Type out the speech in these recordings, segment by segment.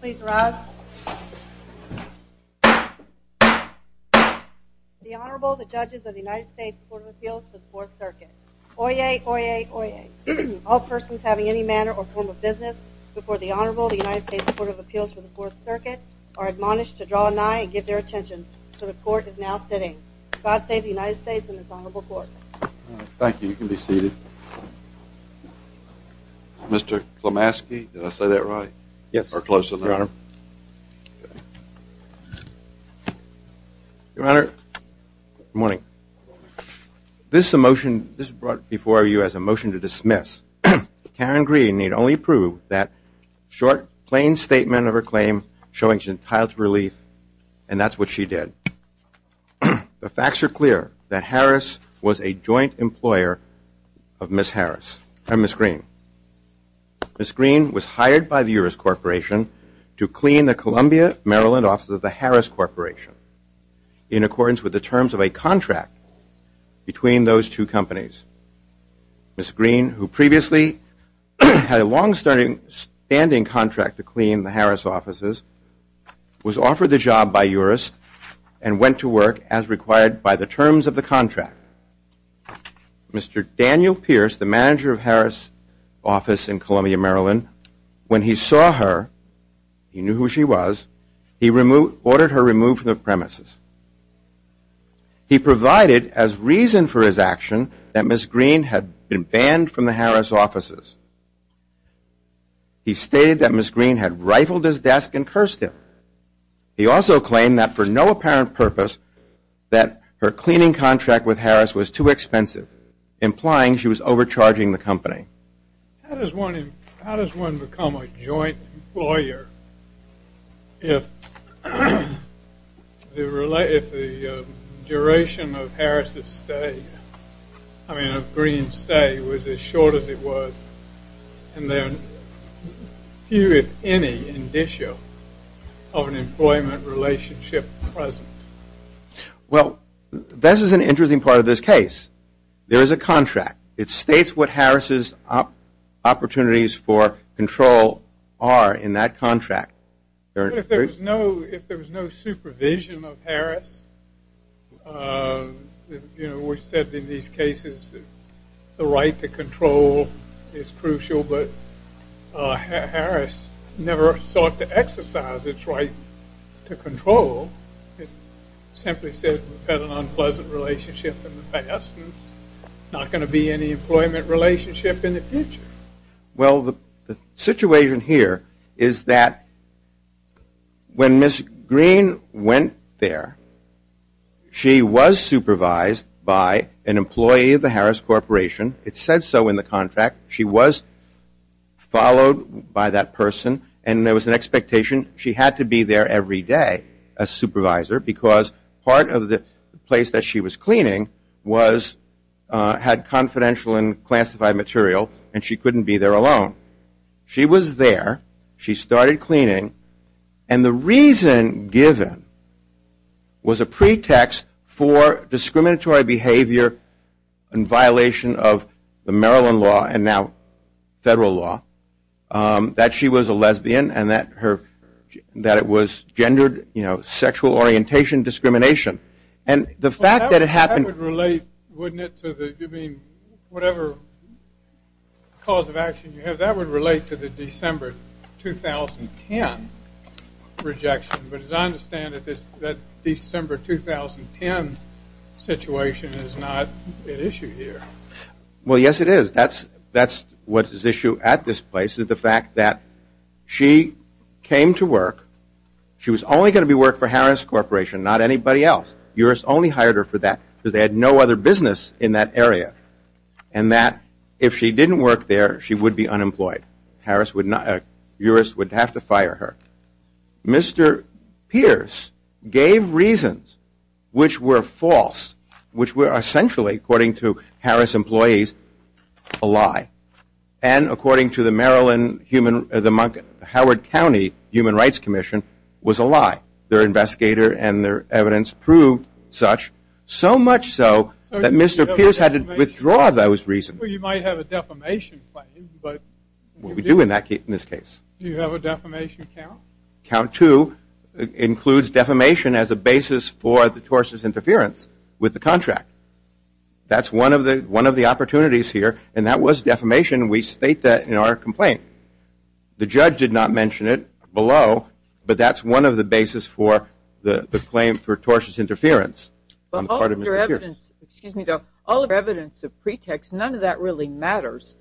Please rise. The Honorable, the Judges of the United States Court of Appeals for the Fourth Circuit. Oyez, Oyez, Oyez. All persons having any manner or form of business before the Honorable, the United States Court of Appeals for the Fourth Circuit are admonished to draw an eye and give their attention, for the Court is now sitting. God save the United States and this Honorable Court. Thank you. You can be seated. Mr. Klamaski, did I say that right? Yes. Or close enough? Your Honor. Your Honor, good morning. Good morning. This is a motion, this is brought before you as a motion to dismiss. Karen Greene need only approve that short, plain statement of her claim, showing she's entitled to relief, and that's what she did. The facts are clear that Harris was a joint employer of Ms. Harris and Ms. Greene. Ms. Greene was hired by the Urist Corporation to clean the Columbia, Maryland offices of the Harris Corporation in accordance with the terms of a contract between those two companies. Ms. Greene, who previously had a long-standing contract to clean the Harris offices, was offered the job by Urist and went to work as required by the terms of the contract. Mr. Daniel Pierce, the manager of Harris' office in Columbia, Maryland, when he saw her, he knew who she was, he ordered her removed from the premises. He provided as reason for his action that Ms. Greene had been banned from the Harris offices. He stated that Ms. Greene had rifled his desk and cursed him. He also claimed that for no apparent purpose that her cleaning contract with Harris was too expensive, implying she was overcharging the company. How does one become a joint employer if the duration of Harris' stay, I mean of Greene's stay, was as short as it was and there appeared any indicia of an employment relationship present? Well, this is an interesting part of this case. There is a contract. It states what Harris' opportunities for control are in that contract. If there was no supervision of Harris, you know, we said in these cases the right to control is crucial, but Harris never sought to exercise its right to control. It simply said we've had an unpleasant relationship in the past and there's not going to be any employment relationship in the future. Well, the situation here is that when Ms. Greene went there, she was supervised by an employee of the Harris Corporation. It said so in the contract. She was followed by that person and there was an expectation she had to be there every day as supervisor because part of the place that she was cleaning had confidential and classified material and she couldn't be there alone. She was there. She started cleaning and the reason given was a pretext for discriminatory behavior in violation of the Maryland law and now federal law that she was a lesbian and that it was gendered sexual orientation discrimination. And the fact that it happened... That would relate, wouldn't it, to whatever cause of action you have. That would relate to the December 2010 rejection, but as I understand it, that December 2010 situation is not at issue here. Well, yes, it is. That's what's at issue at this place is the fact that she came to work. She was only going to be working for Harris Corporation, not anybody else. U.S. only hired her for that because they had no other business in that area and that if she didn't work there, she would be unemployed. U.S. would have to fire her. Mr. Pierce gave reasons which were false, which were essentially, according to Harris employees, a lie. And according to the Howard County Human Rights Commission, was a lie. Their investigator and their evidence proved such, so much so that Mr. Pierce had to withdraw those reasons. Well, you might have a defamation claim, but... We do in this case. Do you have a defamation count? No. Count two includes defamation as a basis for the tortious interference with the contract. That's one of the opportunities here, and that was defamation. We state that in our complaint. The judge did not mention it below, but that's one of the basis for the claim for tortious interference on the part of Mr. Pierce. All of your evidence of pretext, none of that really matters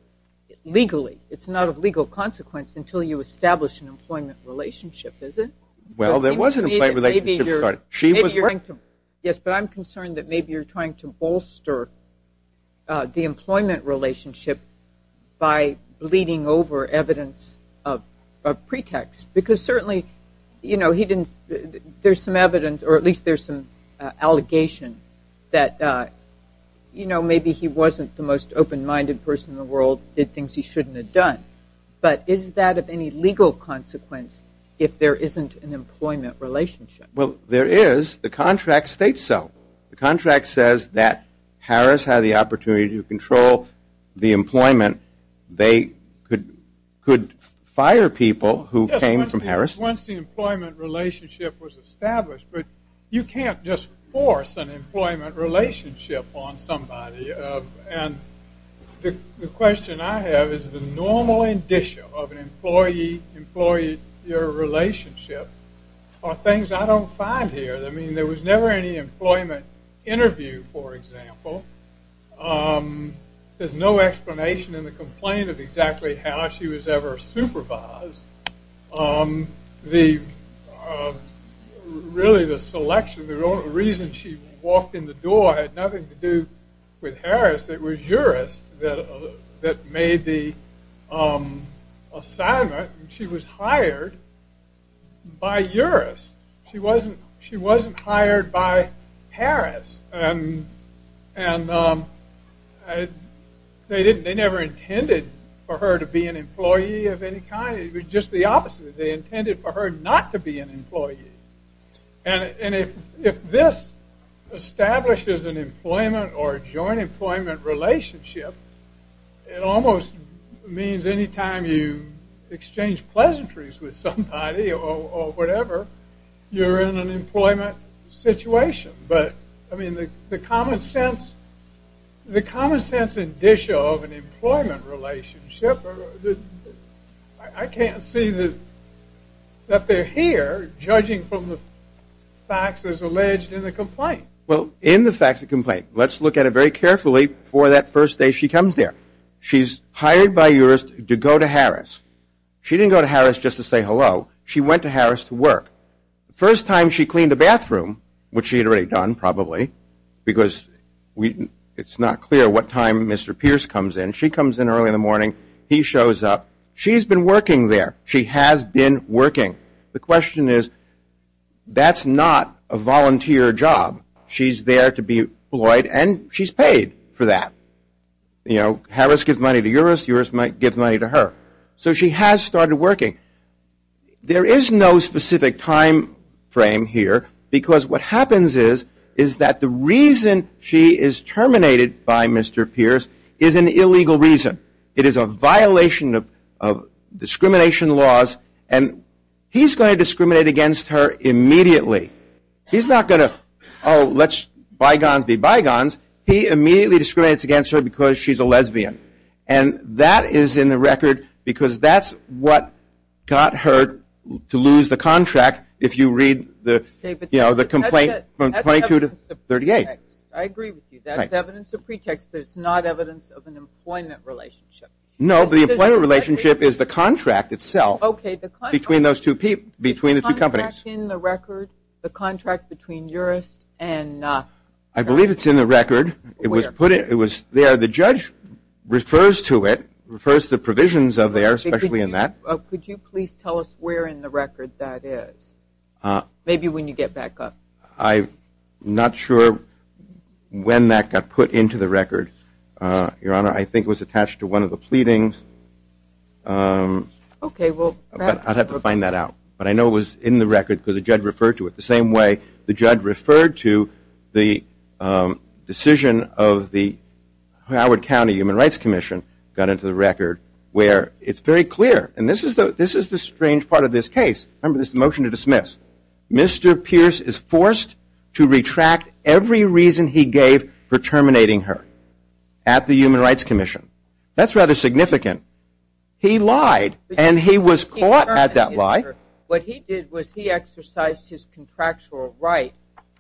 legally. It's not of legal consequence until you establish an employment relationship, is it? Well, there was an employment relationship. Yes, but I'm concerned that maybe you're trying to bolster the employment relationship by bleeding over evidence of pretext, because certainly there's some evidence, or at least there's some allegation, that maybe he wasn't the most open-minded person in the world, did things he shouldn't have done. But is that of any legal consequence if there isn't an employment relationship? Well, there is. The contract states so. The contract says that Harris had the opportunity to control the employment. They could fire people who came from Harris. Once the employment relationship was established, but you can't just force an employment relationship on somebody. And the question I have is the normal indicia of an employee-employee relationship are things I don't find here. I mean, there was never any employment interview, for example. There's no explanation in the complaint of exactly how she was ever supervised. Really, the selection, the reason she walked in the door, had nothing to do with Harris. It was Uris that made the assignment. She was hired by Uris. She wasn't hired by Harris. And they never intended for her to be an employee of any kind. It was just the opposite. They intended for her not to be an employee. And if this establishes an employment or a joint employment relationship, it almost means any time you exchange pleasantries with somebody or whatever, you're in an employment situation. But, I mean, the common sense indicia of an employment relationship, I can't see that they're here judging from the facts as alleged in the complaint. Well, in the facts of the complaint, let's look at it very carefully for that first day she comes there. She's hired by Uris to go to Harris. She didn't go to Harris just to say hello. She went to Harris to work. The first time she cleaned the bathroom, which she had already done probably, because it's not clear what time Mr. Pierce comes in. She comes in early in the morning. He shows up. She's been working there. She has been working. The question is, that's not a volunteer job. She's there to be employed, and she's paid for that. You know, Harris gives money to Uris. Uris gives money to her. So she has started working. There is no specific time frame here, because what happens is that the reason she is terminated by Mr. Pierce is an illegal reason. It is a violation of discrimination laws, and he's going to discriminate against her immediately. He's not going to, oh, let's bygones be bygones. He immediately discriminates against her because she's a lesbian. That is in the record because that's what got her to lose the contract, if you read the complaint from 22 to 38. I agree with you. That's evidence of pretext, but it's not evidence of an employment relationship. No, but the employment relationship is the contract itself between the two companies. Is the contract in the record, the contract between Uris and? I believe it's in the record. It was there. The judge refers to it, refers to provisions of there, especially in that. Could you please tell us where in the record that is? Maybe when you get back up. I'm not sure when that got put into the record, Your Honor. I think it was attached to one of the pleadings. Okay. I'd have to find that out. But I know it was in the record because the judge referred to it. The same way the judge referred to the decision of the Howard County Human Rights Commission, got into the record where it's very clear, and this is the strange part of this case. Remember, this is a motion to dismiss. Mr. Pierce is forced to retract every reason he gave for terminating her at the Human Rights Commission. That's rather significant. He lied, and he was caught at that lie. What he did was he exercised his contractual right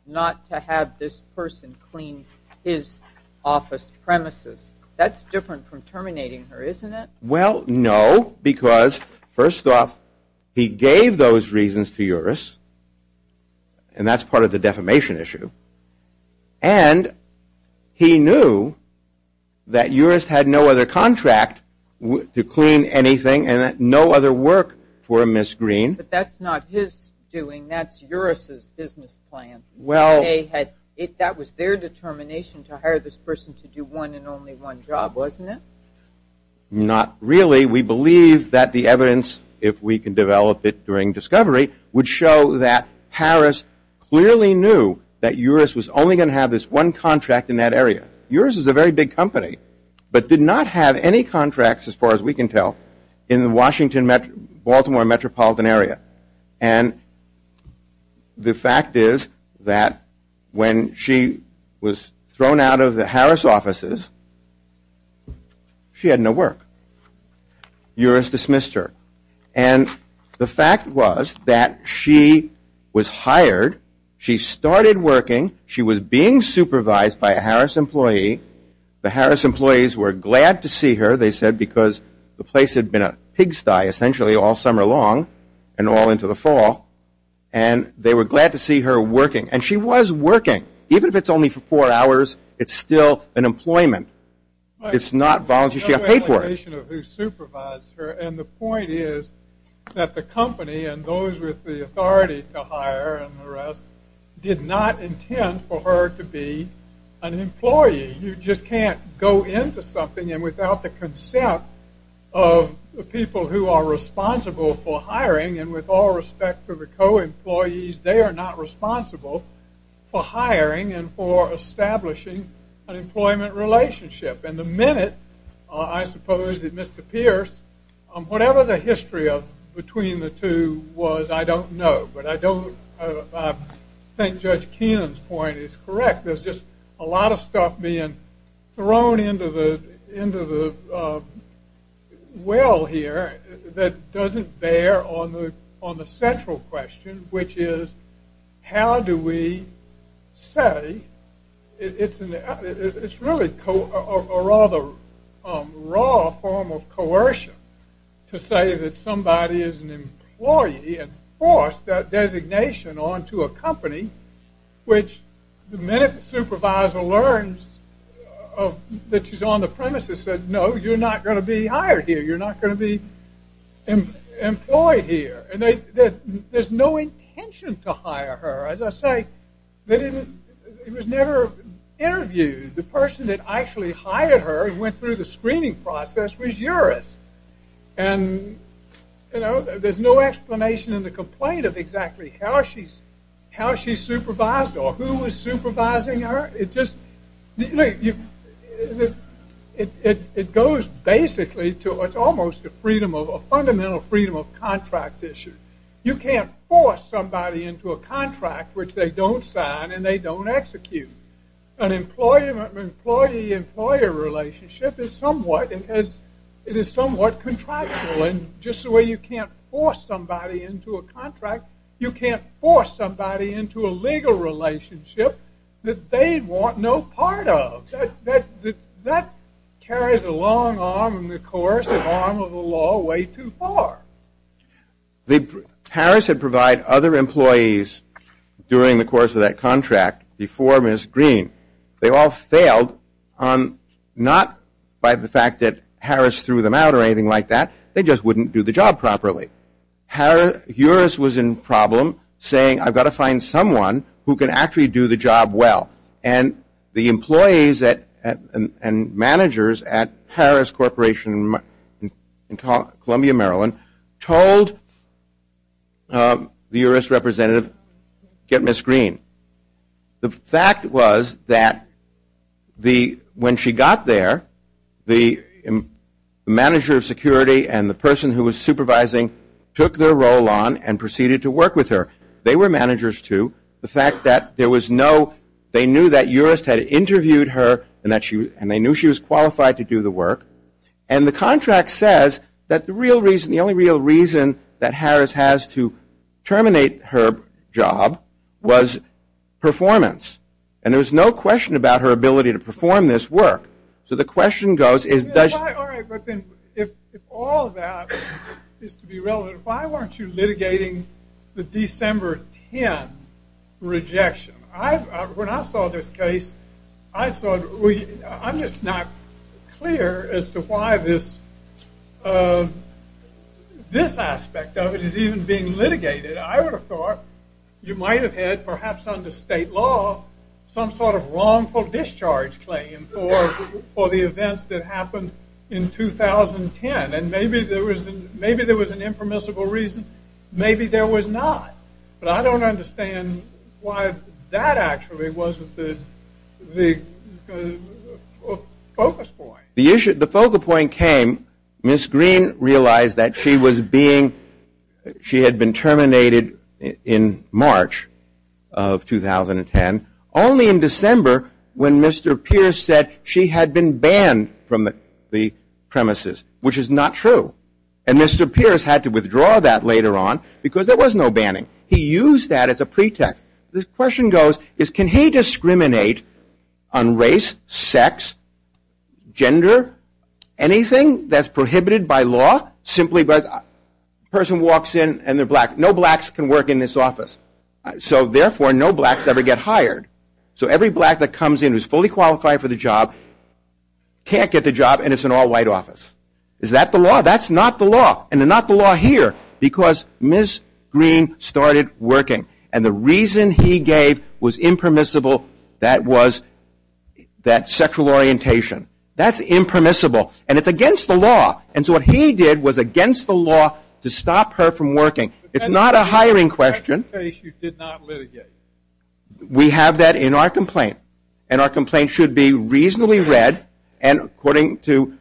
not to have this person clean his office premises. That's different from terminating her, isn't it? Well, no, because, first off, he gave those reasons to Uris, and that's part of the defamation issue, and he knew that Uris had no other contract to clean anything and no other work for Ms. Green. But that's not his doing. That's Uris' business plan. Well. That was their determination to hire this person to do one and only one job, wasn't it? Not really. We believe that the evidence, if we can develop it during discovery, would show that Harris clearly knew that Uris was only going to have this one contract in that area. Uris is a very big company, but did not have any contracts, as far as we can tell, in the Washington-Baltimore metropolitan area. And the fact is that when she was thrown out of the Harris offices, she had no work. Uris dismissed her. And the fact was that she was hired. She started working. She was being supervised by a Harris employee. The Harris employees were glad to see her, they said, because the place had been a pigsty essentially all summer long and all into the fall, and they were glad to see her working. And she was working. Even if it's only for four hours, it's still an employment. It's not volunteer. She got paid for it. And the point is that the company and those with the authority to hire and the rest did not intend for her to be an employee. You just can't go into something, and without the consent of the people who are responsible for hiring, and with all respect to the co-employees, they are not responsible for hiring and for establishing an employment relationship. And the minute I suppose that Mr. Pierce, whatever the history of between the two was, I don't know. But I think Judge Keenan's point is correct. There's just a lot of stuff being thrown into the well here that doesn't bear on the central question, which is how do we say it's really a rather raw form of coercion to say that somebody is an employee and force that designation onto a company, which the minute the supervisor learns that she's on the premise, they said, no, you're not going to be hired here. You're not going to be employed here. And there's no intention to hire her. As I say, it was never interviewed. The person that actually hired her and went through the screening process was Juris. And there's no explanation in the complaint of exactly how she supervised or who was supervising her. Look, it goes basically to what's almost a fundamental freedom of contract issue. You can't force somebody into a contract which they don't sign and they don't execute. An employee-employee-employer relationship is somewhat contractual. And just the way you can't force somebody into a contract, you can't force somebody into a legal relationship that they want no part of. That carries a long arm in the coercive arm of the law way too far. Harris had provided other employees during the course of that contract before Ms. Green. They all failed, not by the fact that Harris threw them out or anything like that. They just wouldn't do the job properly. Juris was in problem saying, I've got to find someone who can actually do the job well. And the employees and managers at Harris Corporation in Columbia, Maryland, told the Juris representative, get Ms. Green. The fact was that when she got there, the manager of security and the person who was supervising took their role on and proceeded to work with her. They were managers too. The fact that there was no, they knew that Juris had interviewed her and they knew she was qualified to do the work. And the contract says that the real reason, the only real reason that Harris has to terminate her job was performance. And there was no question about her ability to perform this work. So the question goes is does... All right, but then if all that is to be relevant, why weren't you litigating the December 10 rejection? When I saw this case, I'm just not clear as to why this aspect of it is even being litigated. I would have thought you might have had, perhaps under state law, some sort of wrongful discharge claim for the events that happened in 2010. And maybe there was an impermissible reason. Maybe there was not. But I don't understand why that actually wasn't the focus point. The focus point came, Ms. Green realized that she was being, she had been terminated in March of 2010, only in December when Mr. Pierce said she had been banned from the premises, which is not true. And Mr. Pierce had to withdraw that later on because there was no banning. He used that as a pretext. The question goes is can he discriminate on race, sex, gender, anything that's prohibited by law simply by the person walks in and they're black. No blacks can work in this office. So therefore, no blacks ever get hired. So every black that comes in who is fully qualified for the job can't get the job and it's an all-white office. Is that the law? That's not the law. And they're not the law here because Ms. Green started working. And the reason he gave was impermissible. That was that sexual orientation. That's impermissible. And it's against the law. And so what he did was against the law to stop her from working. It's not a hiring question. That case you did not litigate. We have that in our complaint. And our complaint should be reasonably read and according to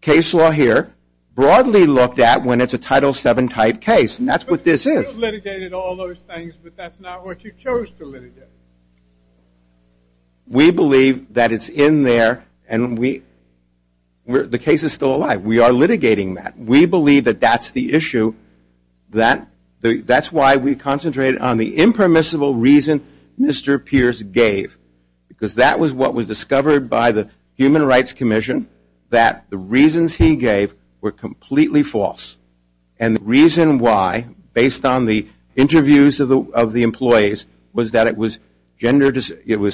case law here, broadly looked at when it's a Title VII type case. And that's what this is. You litigated all those things, but that's not what you chose to litigate. We believe that it's in there and the case is still alive. We are litigating that. We believe that that's the issue. That's why we concentrated on the impermissible reason Mr. Pierce gave because that was what was discovered by the Human Rights Commission, that the reasons he gave were completely false. And the reason why, based on the interviews of the employees, was that it was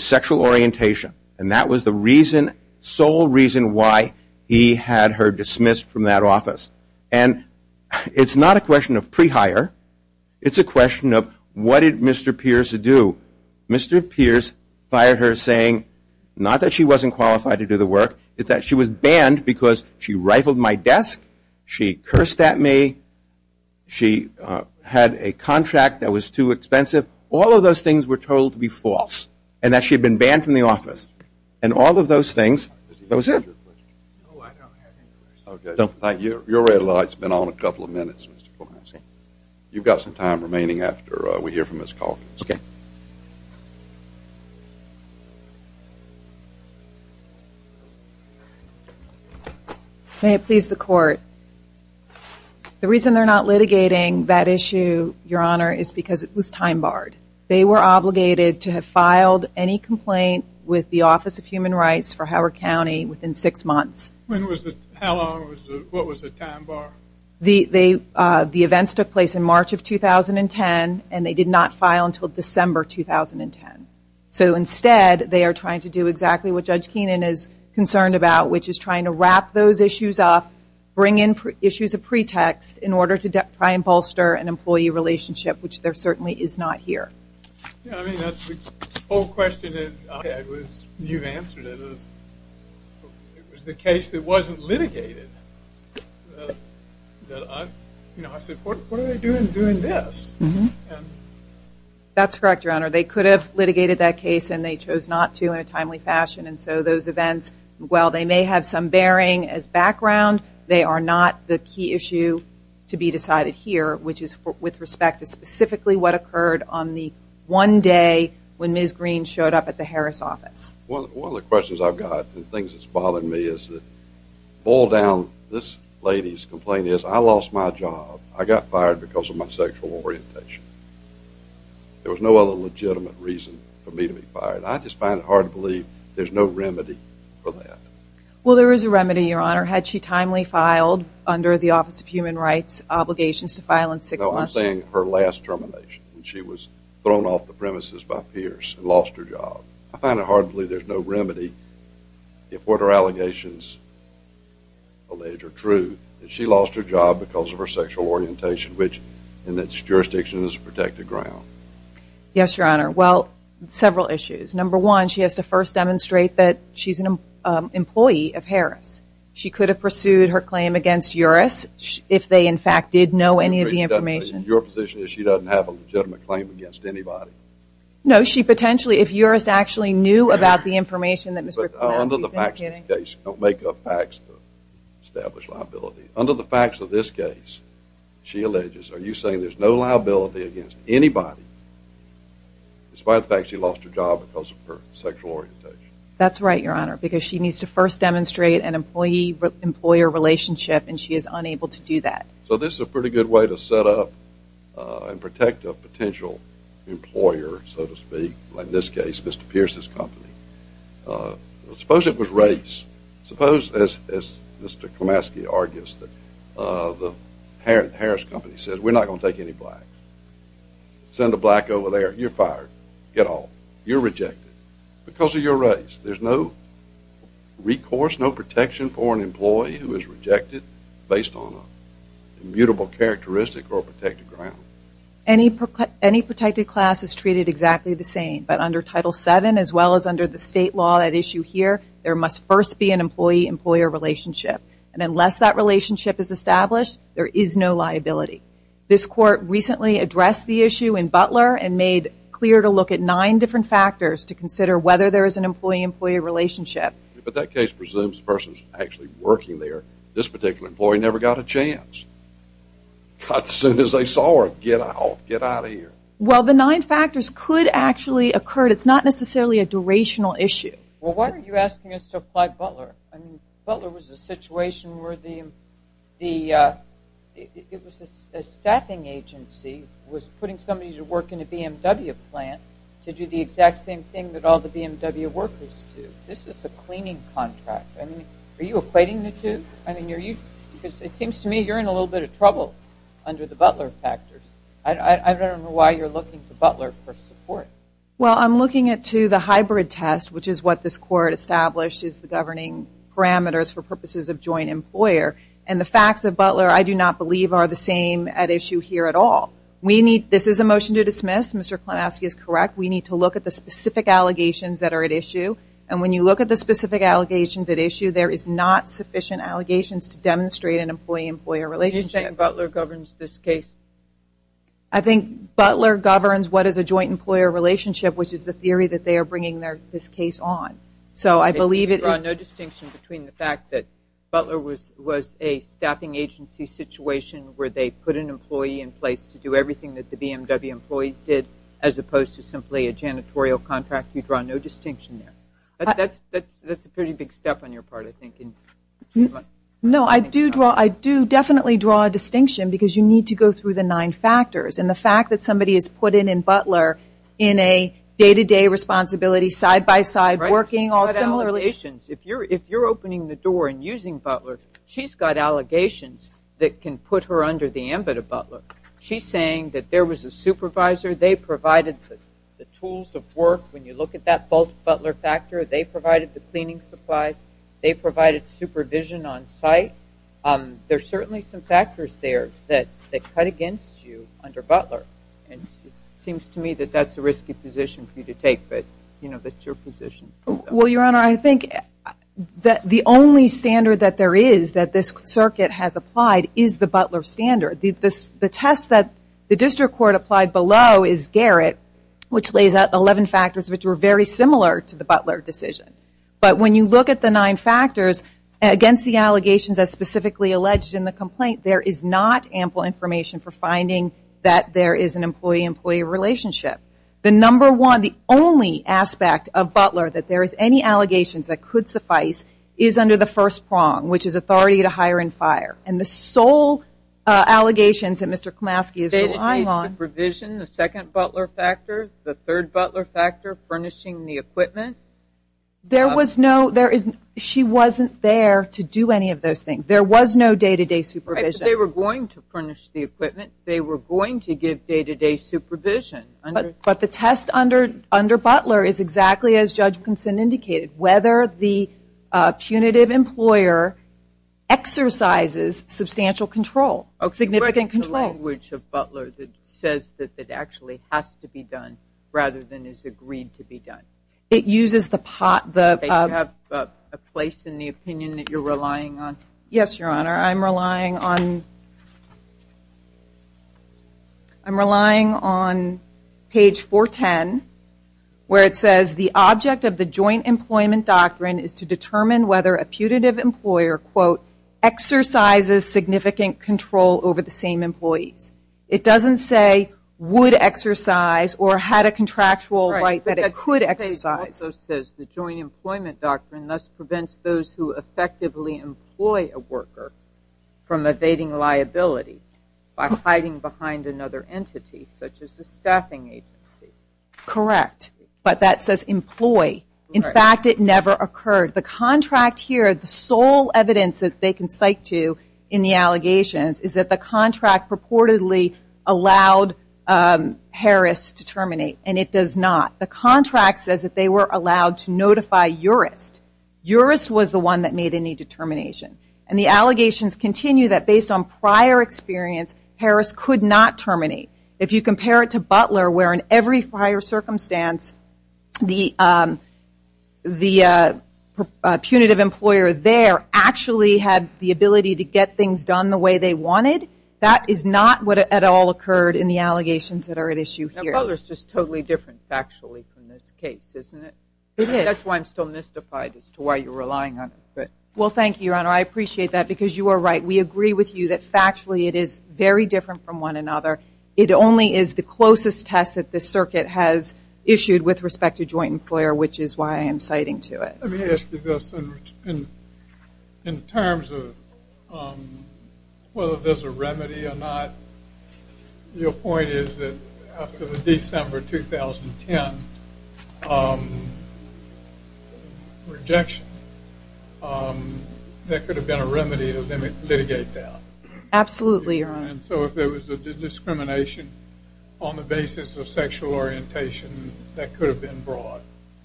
sexual orientation. And that was the sole reason why he had her dismissed from that office. And it's not a question of pre-hire. It's a question of what did Mr. Pierce do. Mr. Pierce fired her saying not that she wasn't qualified to do the work, but that she was banned because she rifled my desk, she cursed at me, she had a contract that was too expensive. All of those things were told to be false and that she had been banned from the office. And all of those things, that was it. Your red light has been on a couple of minutes. You've got some time remaining after we hear from Ms. Calkins. Okay. May it please the Court. The reason they're not litigating that issue, Your Honor, is because it was time barred. They were obligated to have filed any complaint with the Office of Human Rights for Howard County within six months. How long? What was the time bar? The events took place in March of 2010 and they did not file until December 2010. So instead, they are trying to do exactly what Judge Keenan is concerned about, which is trying to wrap those issues up, bring in issues of pretext in order to try and bolster an employee relationship, which there certainly is not here. The whole question that I had was, you've answered it, it was the case that wasn't litigated. I said, what are they doing doing this? That's correct, Your Honor. They could have litigated that case and they chose not to in a timely fashion, and so those events, while they may have some bearing as background, they are not the key issue to be decided here, which is with respect to specifically what occurred on the one day when Ms. Green showed up at the Harris office. One of the questions I've got and things that's bothering me is that boil down this lady's complaint is I lost my job. I got fired because of my sexual orientation. There was no other legitimate reason for me to be fired. I just find it hard to believe there's no remedy for that. Well, there is a remedy, Your Honor. Had she timely filed under the Office of Human Rights obligations to file in six months? No, I'm saying her last termination when she was thrown off the premises by Pierce and lost her job. I find it hard to believe there's no remedy if what her allegations allege are true, that she lost her job because of her sexual orientation, which in its jurisdiction is a protected ground. Yes, Your Honor. Well, several issues. Number one, she has to first demonstrate that she's an employee of Harris. She could have pursued her claim against Uris if they, in fact, did know any of the information. Your position is she doesn't have a legitimate claim against anybody? No, she potentially, if Uris actually knew about the information that Mr. Parnassi is indicating. Don't make up facts to establish liability. Under the facts of this case, she alleges, are you saying there's no liability against anybody despite the fact she lost her job because of her sexual orientation? That's right, Your Honor, because she needs to first demonstrate an employee-employer relationship, and she is unable to do that. So this is a pretty good way to set up and protect a potential employer, so to speak, like in this case, Mr. Pierce's company. Suppose it was race. Suppose, as Mr. Klimaski argues, the Harris company says, we're not going to take any blacks. Send a black over there, you're fired. Get off. You're rejected. Because of your race, there's no recourse, no protection for an employee who is rejected based on an immutable characteristic or protected ground. Any protected class is treated exactly the same, but under Title VII, as well as under the state law at issue here, there must first be an employee-employer relationship, and unless that relationship is established, there is no liability. This court recently addressed the issue in Butler and made clear to look at nine different factors to consider whether there is an employee-employer relationship. But that case presumes the person's actually working there. This particular employee never got a chance. God, as soon as they saw her, get out, get out of here. Well, the nine factors could actually occur. It's not necessarily a durational issue. Well, why are you asking us to apply Butler? I mean, Butler was a situation where the, it was a staffing agency was putting somebody to work in a BMW plant to do the exact same thing that all the BMW workers do. This is a cleaning contract. I mean, are you equating the two? Because it seems to me you're in a little bit of trouble under the Butler factors. I don't know why you're looking to Butler for support. Well, I'm looking at, too, the hybrid test, which is what this court established as the governing parameters for purposes of joint employer, and the facts of Butler, I do not believe, are the same at issue here at all. We need, this is a motion to dismiss. Mr. Klemowski is correct. We need to look at the specific allegations that are at issue, and when you look at the specific allegations at issue, there is not sufficient allegations to demonstrate an employee-employer relationship. You're saying Butler governs this case? I think Butler governs what is a joint employer relationship, which is the theory that they are bringing this case on. So I believe it is. You draw no distinction between the fact that Butler was a staffing agency situation where they put an employee in place to do everything that the BMW employees did, as opposed to simply a janitorial contract. You draw no distinction there. That's a pretty big step on your part, I think. No, I do draw, I do definitely draw a distinction because you need to go through the nine factors, and the fact that somebody is put in in Butler in a day-to-day responsibility, side-by-side, working all similarly. If you're opening the door and using Butler, she's got allegations that can put her under the ambit of Butler. She's saying that there was a supervisor, they provided the tools of work. When you look at that false Butler factor, they provided the cleaning supplies, they provided supervision on site. There are certainly some factors there that cut against you under Butler. It seems to me that that's a risky position for you to take, but that's your position. Well, Your Honor, I think the only standard that there is that this circuit has applied is the Butler standard. The test that the district court applied below is Garrett, which lays out 11 factors which were very similar to the Butler decision. But when you look at the nine factors against the allegations as specifically alleged in the complaint, there is not ample information for finding that there is an employee-employee relationship. The number one, the only aspect of Butler that there is any allegations that could suffice is under the first prong, which is authority to hire and fire. And the sole allegations that Mr. Komaske is relying on is supervision, the second Butler factor, the third Butler factor, furnishing the equipment. She wasn't there to do any of those things. There was no day-to-day supervision. They were going to furnish the equipment. They were going to give day-to-day supervision. But the test under Butler is exactly as Judge Kinson indicated, whether the punitive employer exercises substantial control. Significant control. It's the language of Butler that says that it actually has to be done rather than is agreed to be done. It uses the pot. Do you have a place in the opinion that you're relying on? Yes, Your Honor. I'm relying on page 410, where it says, the object of the joint employment doctrine is to determine whether a punitive employer exercises significant control over the same employees. It doesn't say would exercise or had a contractual right that it could exercise. The joint employment doctrine thus prevents those who effectively employ a worker from evading liability by hiding behind another entity, such as a staffing agency. Correct. But that says employ. In fact, it never occurred. The contract here, the sole evidence that they can cite to in the allegations, is that the contract purportedly allowed Harris to terminate, and it does not. The contract says that they were allowed to notify Urist. Urist was the one that made any determination. And the allegations continue that based on prior experience, Harris could not terminate. If you compare it to Butler, where in every prior circumstance, the punitive employer there actually had the ability to get things done the way they wanted, that is not what at all occurred in the allegations that are at issue here. Butler is just totally different factually from this case, isn't it? It is. That's why I'm still mystified as to why you're relying on it. Well, thank you, Your Honor. I appreciate that because you are right. We agree with you that factually it is very different from one another. It only is the closest test that the circuit has issued with respect to joint employer, which is why I am citing to it. Let me ask you this. In terms of whether there's a remedy or not, your point is that after the December 2010 rejection, there could have been a remedy to litigate that. Absolutely, Your Honor. So if there was a discrimination on the basis of sexual orientation, that could have been brought.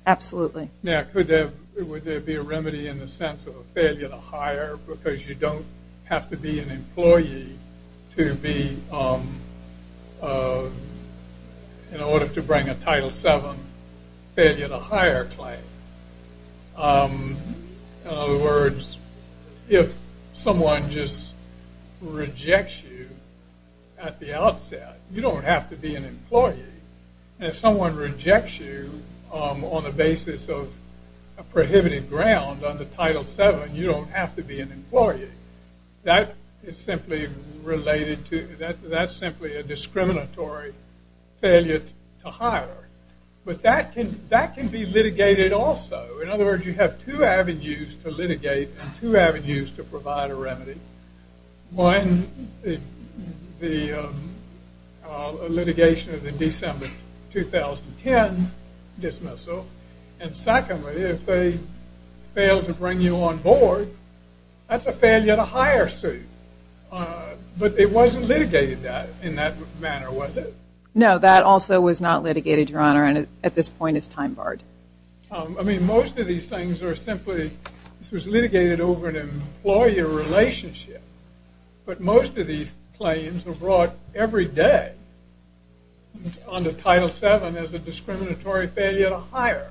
Absolutely. Now, would there be a remedy in the sense of a failure to hire because you don't have to be an employee in order to bring a Title VII failure to hire claim? In other words, if someone just rejects you at the outset, you don't have to be an employee. And if someone rejects you on the basis of a prohibited ground under Title VII, you don't have to be an employee. That's simply a discriminatory failure to hire. But that can be litigated also. In other words, you have two avenues to litigate and two avenues to provide a remedy. One, the litigation of the December 2010 dismissal. And secondly, if they fail to bring you on board, that's a failure to hire suit. But it wasn't litigated in that manner, was it? No, that also was not litigated, Your Honor, and at this point it's time barred. I mean, most of these things are simply litigated over an employer relationship. But most of these claims are brought every day under Title VII as a discriminatory failure to hire.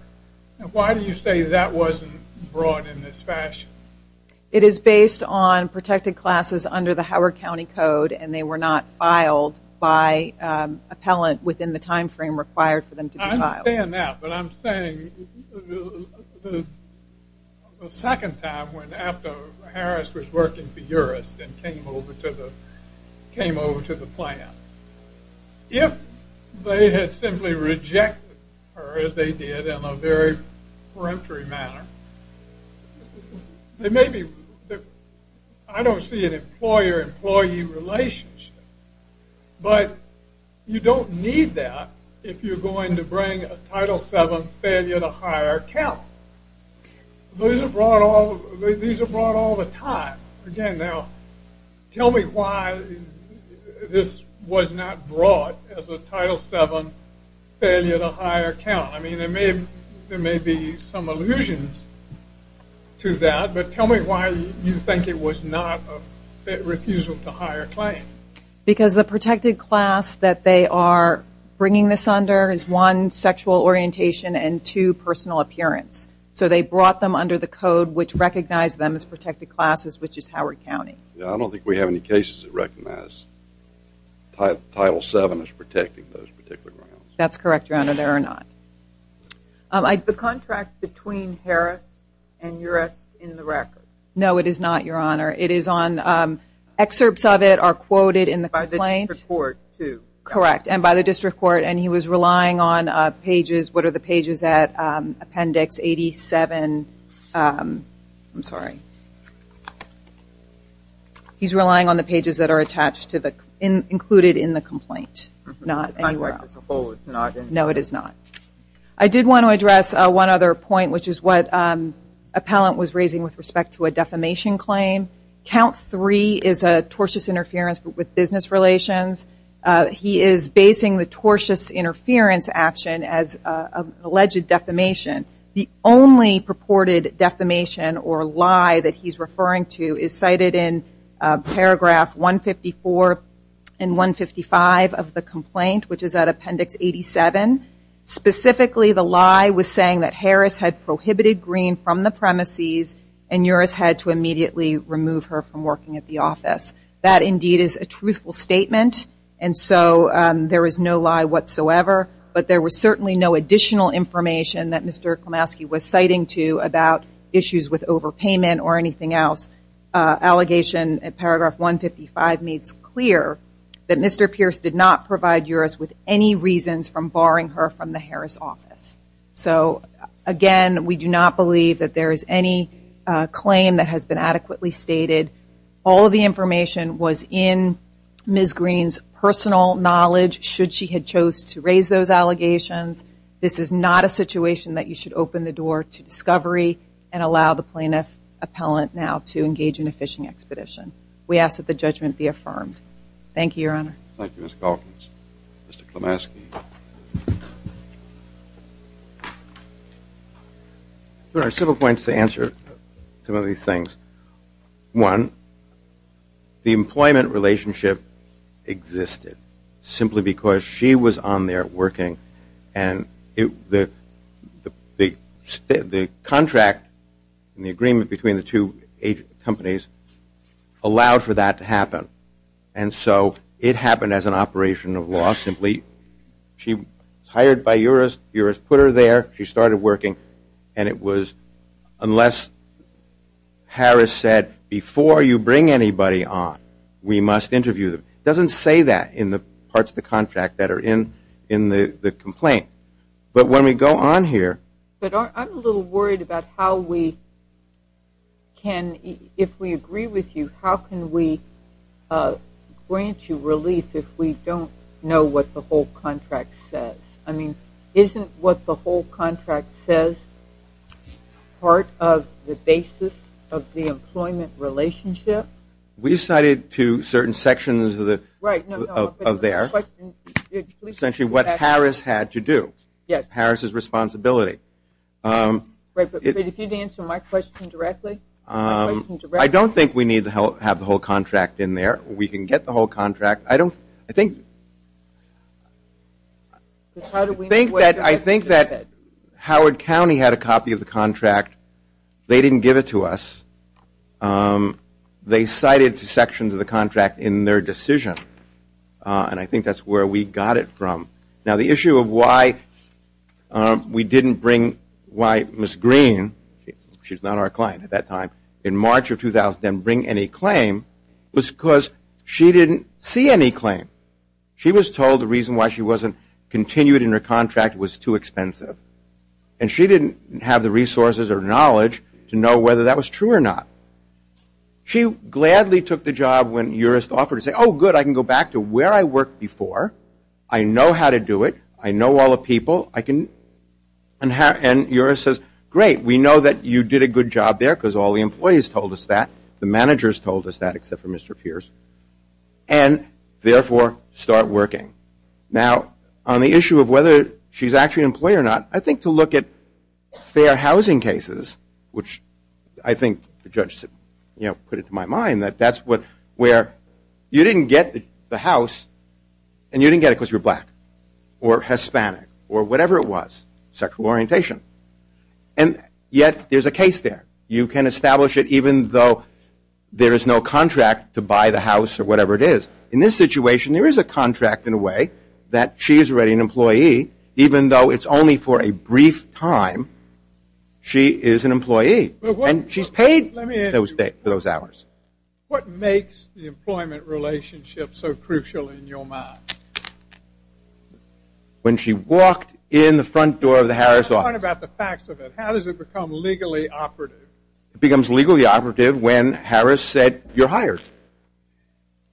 Why do you say that wasn't brought in this fashion? It is based on protected classes under the Howard County Code and they were not filed by appellant within the time frame required for them to be filed. I understand that, but I'm saying the second time, after Harris was working for URIST and came over to the plan, if they had simply rejected her as they did in a very peremptory manner, I don't see an employer-employee relationship. But you don't need that if you're going to bring a Title VII failure to hire account. These are brought all the time. Again, now, tell me why this was not brought as a Title VII failure to hire account. I mean, there may be some allusions to that, but tell me why you think it was not a refusal to hire claim. Because the protected class that they are bringing this under is one, sexual orientation and two, personal appearance. So they brought them under the code which recognized them as protected classes, which is Howard County. I don't think we have any cases that recognize Title VII as protecting those particular grounds. That's correct, Your Honor, there are not. Is the contract between Harris and URIST in the record? No, it is not, Your Honor. It is on – excerpts of it are quoted in the complaint. By the district court, too. Correct, and by the district court. And he was relying on pages – what are the pages at? Appendix 87. I'm sorry. He's relying on the pages that are attached to the – included in the complaint, not anywhere else. The contract is opposed. No, it is not. I did want to address one other point, which is what Appellant was raising with respect to a defamation claim. Count III is a tortious interference with business relations. He is basing the tortious interference action as an alleged defamation. The only purported defamation or lie that he's referring to is cited in paragraph 154 and 155 of the complaint, which is at Appendix 87. Specifically, the lie was saying that Harris had prohibited Green from the premises and URIST had to immediately remove her from working at the office. That, indeed, is a truthful statement, and so there is no lie whatsoever. But there was certainly no additional information that Mr. Klemowski was citing to about issues with overpayment or anything else. Allegation in paragraph 155 makes clear that Mr. Pierce did not provide URIST with any reasons from barring her from the Harris office. So, again, we do not believe that there is any claim that has been adequately stated. All of the information was in Ms. Green's personal knowledge, should she had chose to raise those allegations. This is not a situation that you should open the door to discovery and allow the plaintiff appellant now to engage in a phishing expedition. We ask that the judgment be affirmed. Thank you, Your Honor. Thank you, Ms. Calkins. Mr. Klemowski. There are several points to answer some of these things. One, the employment relationship existed simply because she was on there working and the contract and the agreement between the two companies allowed for that to happen. And so it happened as an operation of law simply. She was hired by URIST. URIST put her there. She started working, and it was unless Harris said, before you bring anybody on, we must interview them. It doesn't say that in the parts of the contract that are in the complaint. But when we go on here. But I'm a little worried about how we can, if we agree with you, how can we grant you relief if we don't know what the whole contract says? I mean, isn't what the whole contract says part of the basis of the employment relationship? We cited to certain sections of there essentially what Harris had to do. Yes. Harris's responsibility. But if you answer my question directly. I don't think we need to have the whole contract in there. We can get the whole contract. I think that Howard County had a copy of the contract. They didn't give it to us. They cited sections of the contract in their decision. And I think that's where we got it from. Now, the issue of why we didn't bring, why Ms. Green, she's not our client at that time, in March of 2000 didn't bring any claim was because she didn't see any claim. She was told the reason why she wasn't continued in her contract was too expensive. And she didn't have the resources or knowledge to know whether that was true or not. She gladly took the job when Uris offered to say, oh, good, I can go back to where I worked before. I know how to do it. I know all the people. And Uris says, great, we know that you did a good job there because all the employees told us that. The managers told us that except for Mr. Pierce. And, therefore, start working. Now, on the issue of whether she's actually an employee or not, I think to look at fair housing cases, which I think the judge put it to my mind that that's where you didn't get the house and you didn't get it because you're black or Hispanic or whatever it was, sexual orientation. And yet there's a case there. You can establish it even though there is no contract to buy the house or whatever it is. In this situation, there is a contract in a way that she is already an employee, even though it's only for a brief time, she is an employee. And she's paid those hours. What makes the employment relationship so crucial in your mind? When she walked in the front door of the Harris office. Talk about the facts of it. How does it become legally operative? It becomes legally operative when Harris said, you're hired.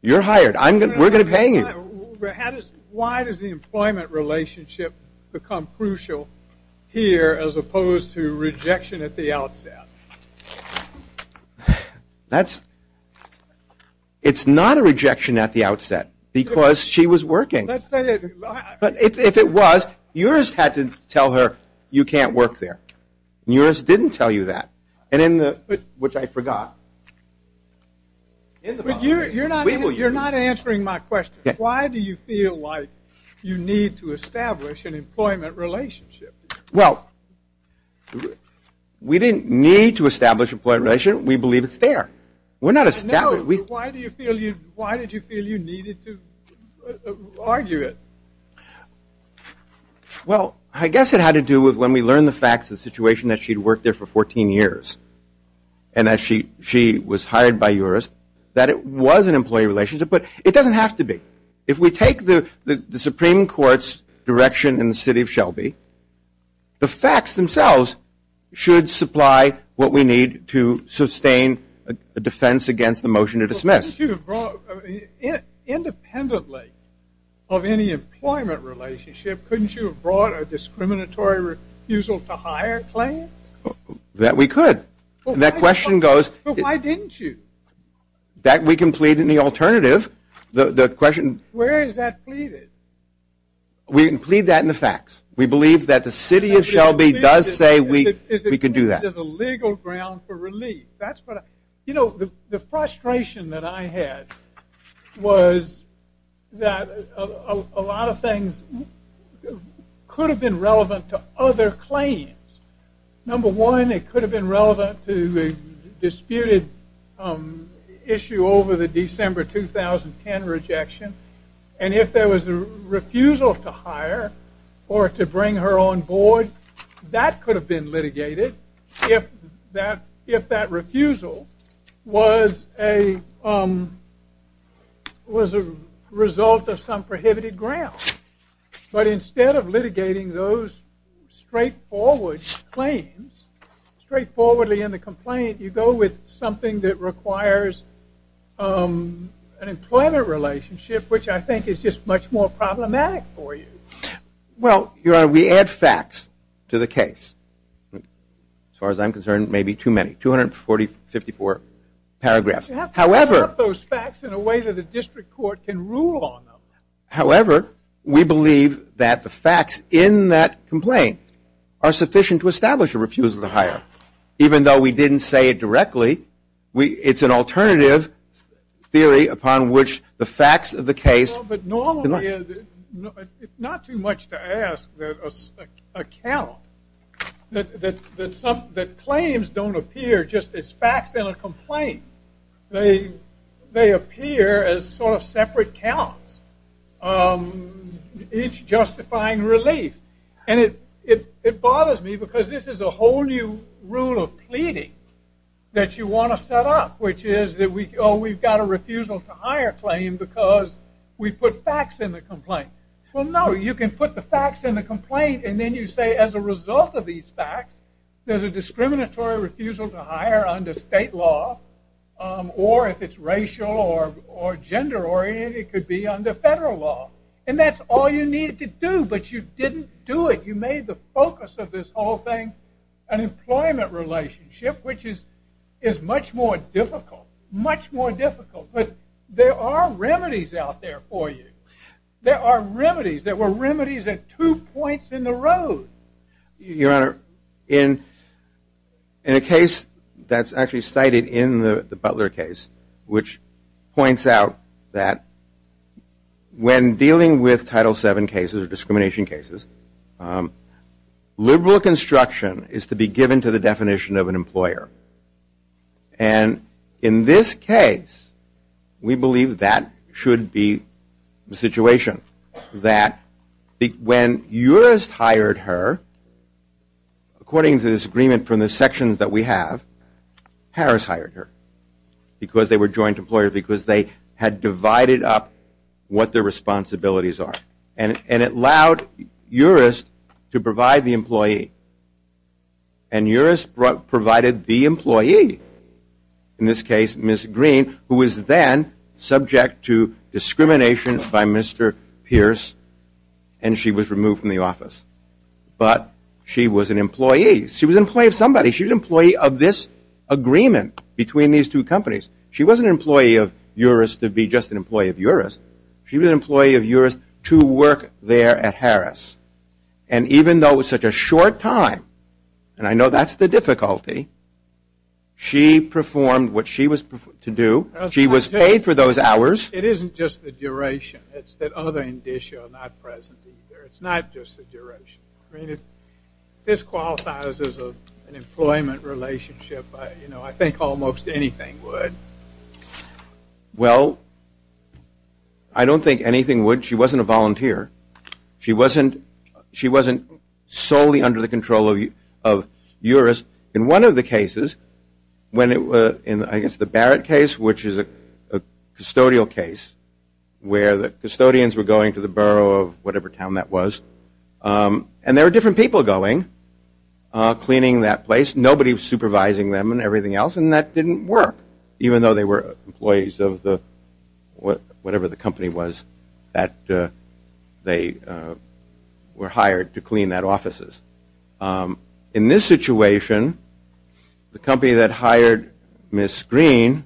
You're hired. We're going to pay you. Why does the employment relationship become crucial here as opposed to rejection at the outset? It's not a rejection at the outset because she was working. But if it was, yours had to tell her you can't work there. Yours didn't tell you that, which I forgot. You're not answering my question. Why do you feel like you need to establish an employment relationship? Well, we didn't need to establish an employment relationship. We believe it's there. Why did you feel you needed to argue it? Well, I guess it had to do with when we learned the facts of the situation that she had worked there for 14 years. And as she was hired by yours, that it was an employee relationship. But it doesn't have to be. If we take the Supreme Court's direction in the city of Shelby, the facts themselves should supply what we need to sustain a defense against the motion to dismiss. Independently of any employment relationship, couldn't you have brought a discriminatory refusal to hire claim? That we could. That question goes... But why didn't you? That we can plead in the alternative. The question... Where is that pleaded? We can plead that in the facts. We believe that the city of Shelby does say we can do that. Is it just a legal ground for relief? That's what I... You know, the frustration that I had was that a lot of things could have been relevant to other claims. Number one, it could have been relevant to the disputed issue over the December 2010 rejection. And if there was a refusal to hire or to bring her on board, that could have been litigated. If that refusal was a result of some prohibited ground. But instead of litigating those straightforward claims, straightforwardly in the complaint, you go with something that requires an employment relationship, which I think is just much more problematic for you. Well, Your Honor, we add facts to the case. As far as I'm concerned, maybe too many. 244 paragraphs. However... You have to sum up those facts in a way that a district court can rule on them. However, we believe that the facts in that complaint are sufficient to establish a refusal to hire. Even though we didn't say it directly, it's an alternative theory upon which the facts of the case... But normally, it's not too much to ask a count that claims don't appear just as facts in a complaint. They appear as sort of separate counts, each justifying relief. And it bothers me because this is a whole new rule of pleading that you want to set up, which is that we've got a refusal to hire claim because we put facts in the complaint. Well, no. You can put the facts in the complaint, and then you say, as a result of these facts, there's a discriminatory refusal to hire under state law, or if it's racial or gender-oriented, it could be under federal law. And that's all you needed to do, but you didn't do it. You made the focus of this whole thing an employment relationship, which is much more difficult, much more difficult. But there are remedies out there for you. There are remedies. There were remedies at two points in the road. Your Honor, in a case that's actually cited in the Butler case, which points out that when dealing with Title VII cases or discrimination cases, liberal construction is to be given to the definition of an employer. And in this case, we believe that should be the situation, that when Urist hired her, according to this agreement from the sections that we have, Harris hired her because they were joint employers, because they had divided up what their responsibilities are, and it allowed Urist to provide the employee. And Urist provided the employee, in this case Ms. Green, who was then subject to discrimination by Mr. Pierce, and she was removed from the office. But she was an employee. She was an employee of somebody. She was an employee of this agreement between these two companies. She wasn't an employee of Urist to be just an employee of Urist. She was an employee of Urist to work there at Harris. And even though it was such a short time, and I know that's the difficulty, she performed what she was to do. She was paid for those hours. It isn't just the duration. It's that other indicia are not present either. It's not just the duration. If this qualifies as an employment relationship, I think almost anything would. Well, I don't think anything would. She wasn't a volunteer. She wasn't solely under the control of Urist. In one of the cases, in I guess the Barrett case, which is a custodial case, where the custodians were going to the borough of whatever town that was, and there were different people going, cleaning that place. Nobody was supervising them and everything else, and that didn't work, even though they were employees of whatever the company was that they were hired to clean that offices. In this situation, the company that hired Ms. Green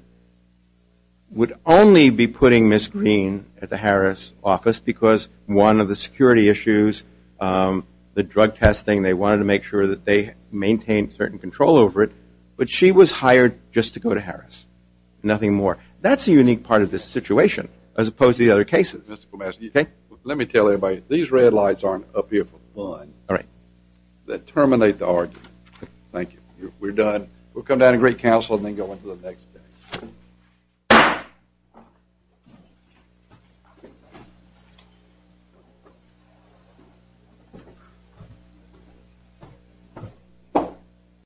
would only be putting Ms. Green at the Harris office because one of the security issues, the drug testing, they wanted to make sure that they maintained certain control over it. But she was hired just to go to Harris, nothing more. That's a unique part of this situation as opposed to the other cases. Let me tell everybody, these red lights aren't up here for fun. All right. They terminate the argument. Thank you. We're done. We'll come down to great counsel and then go into the next thing.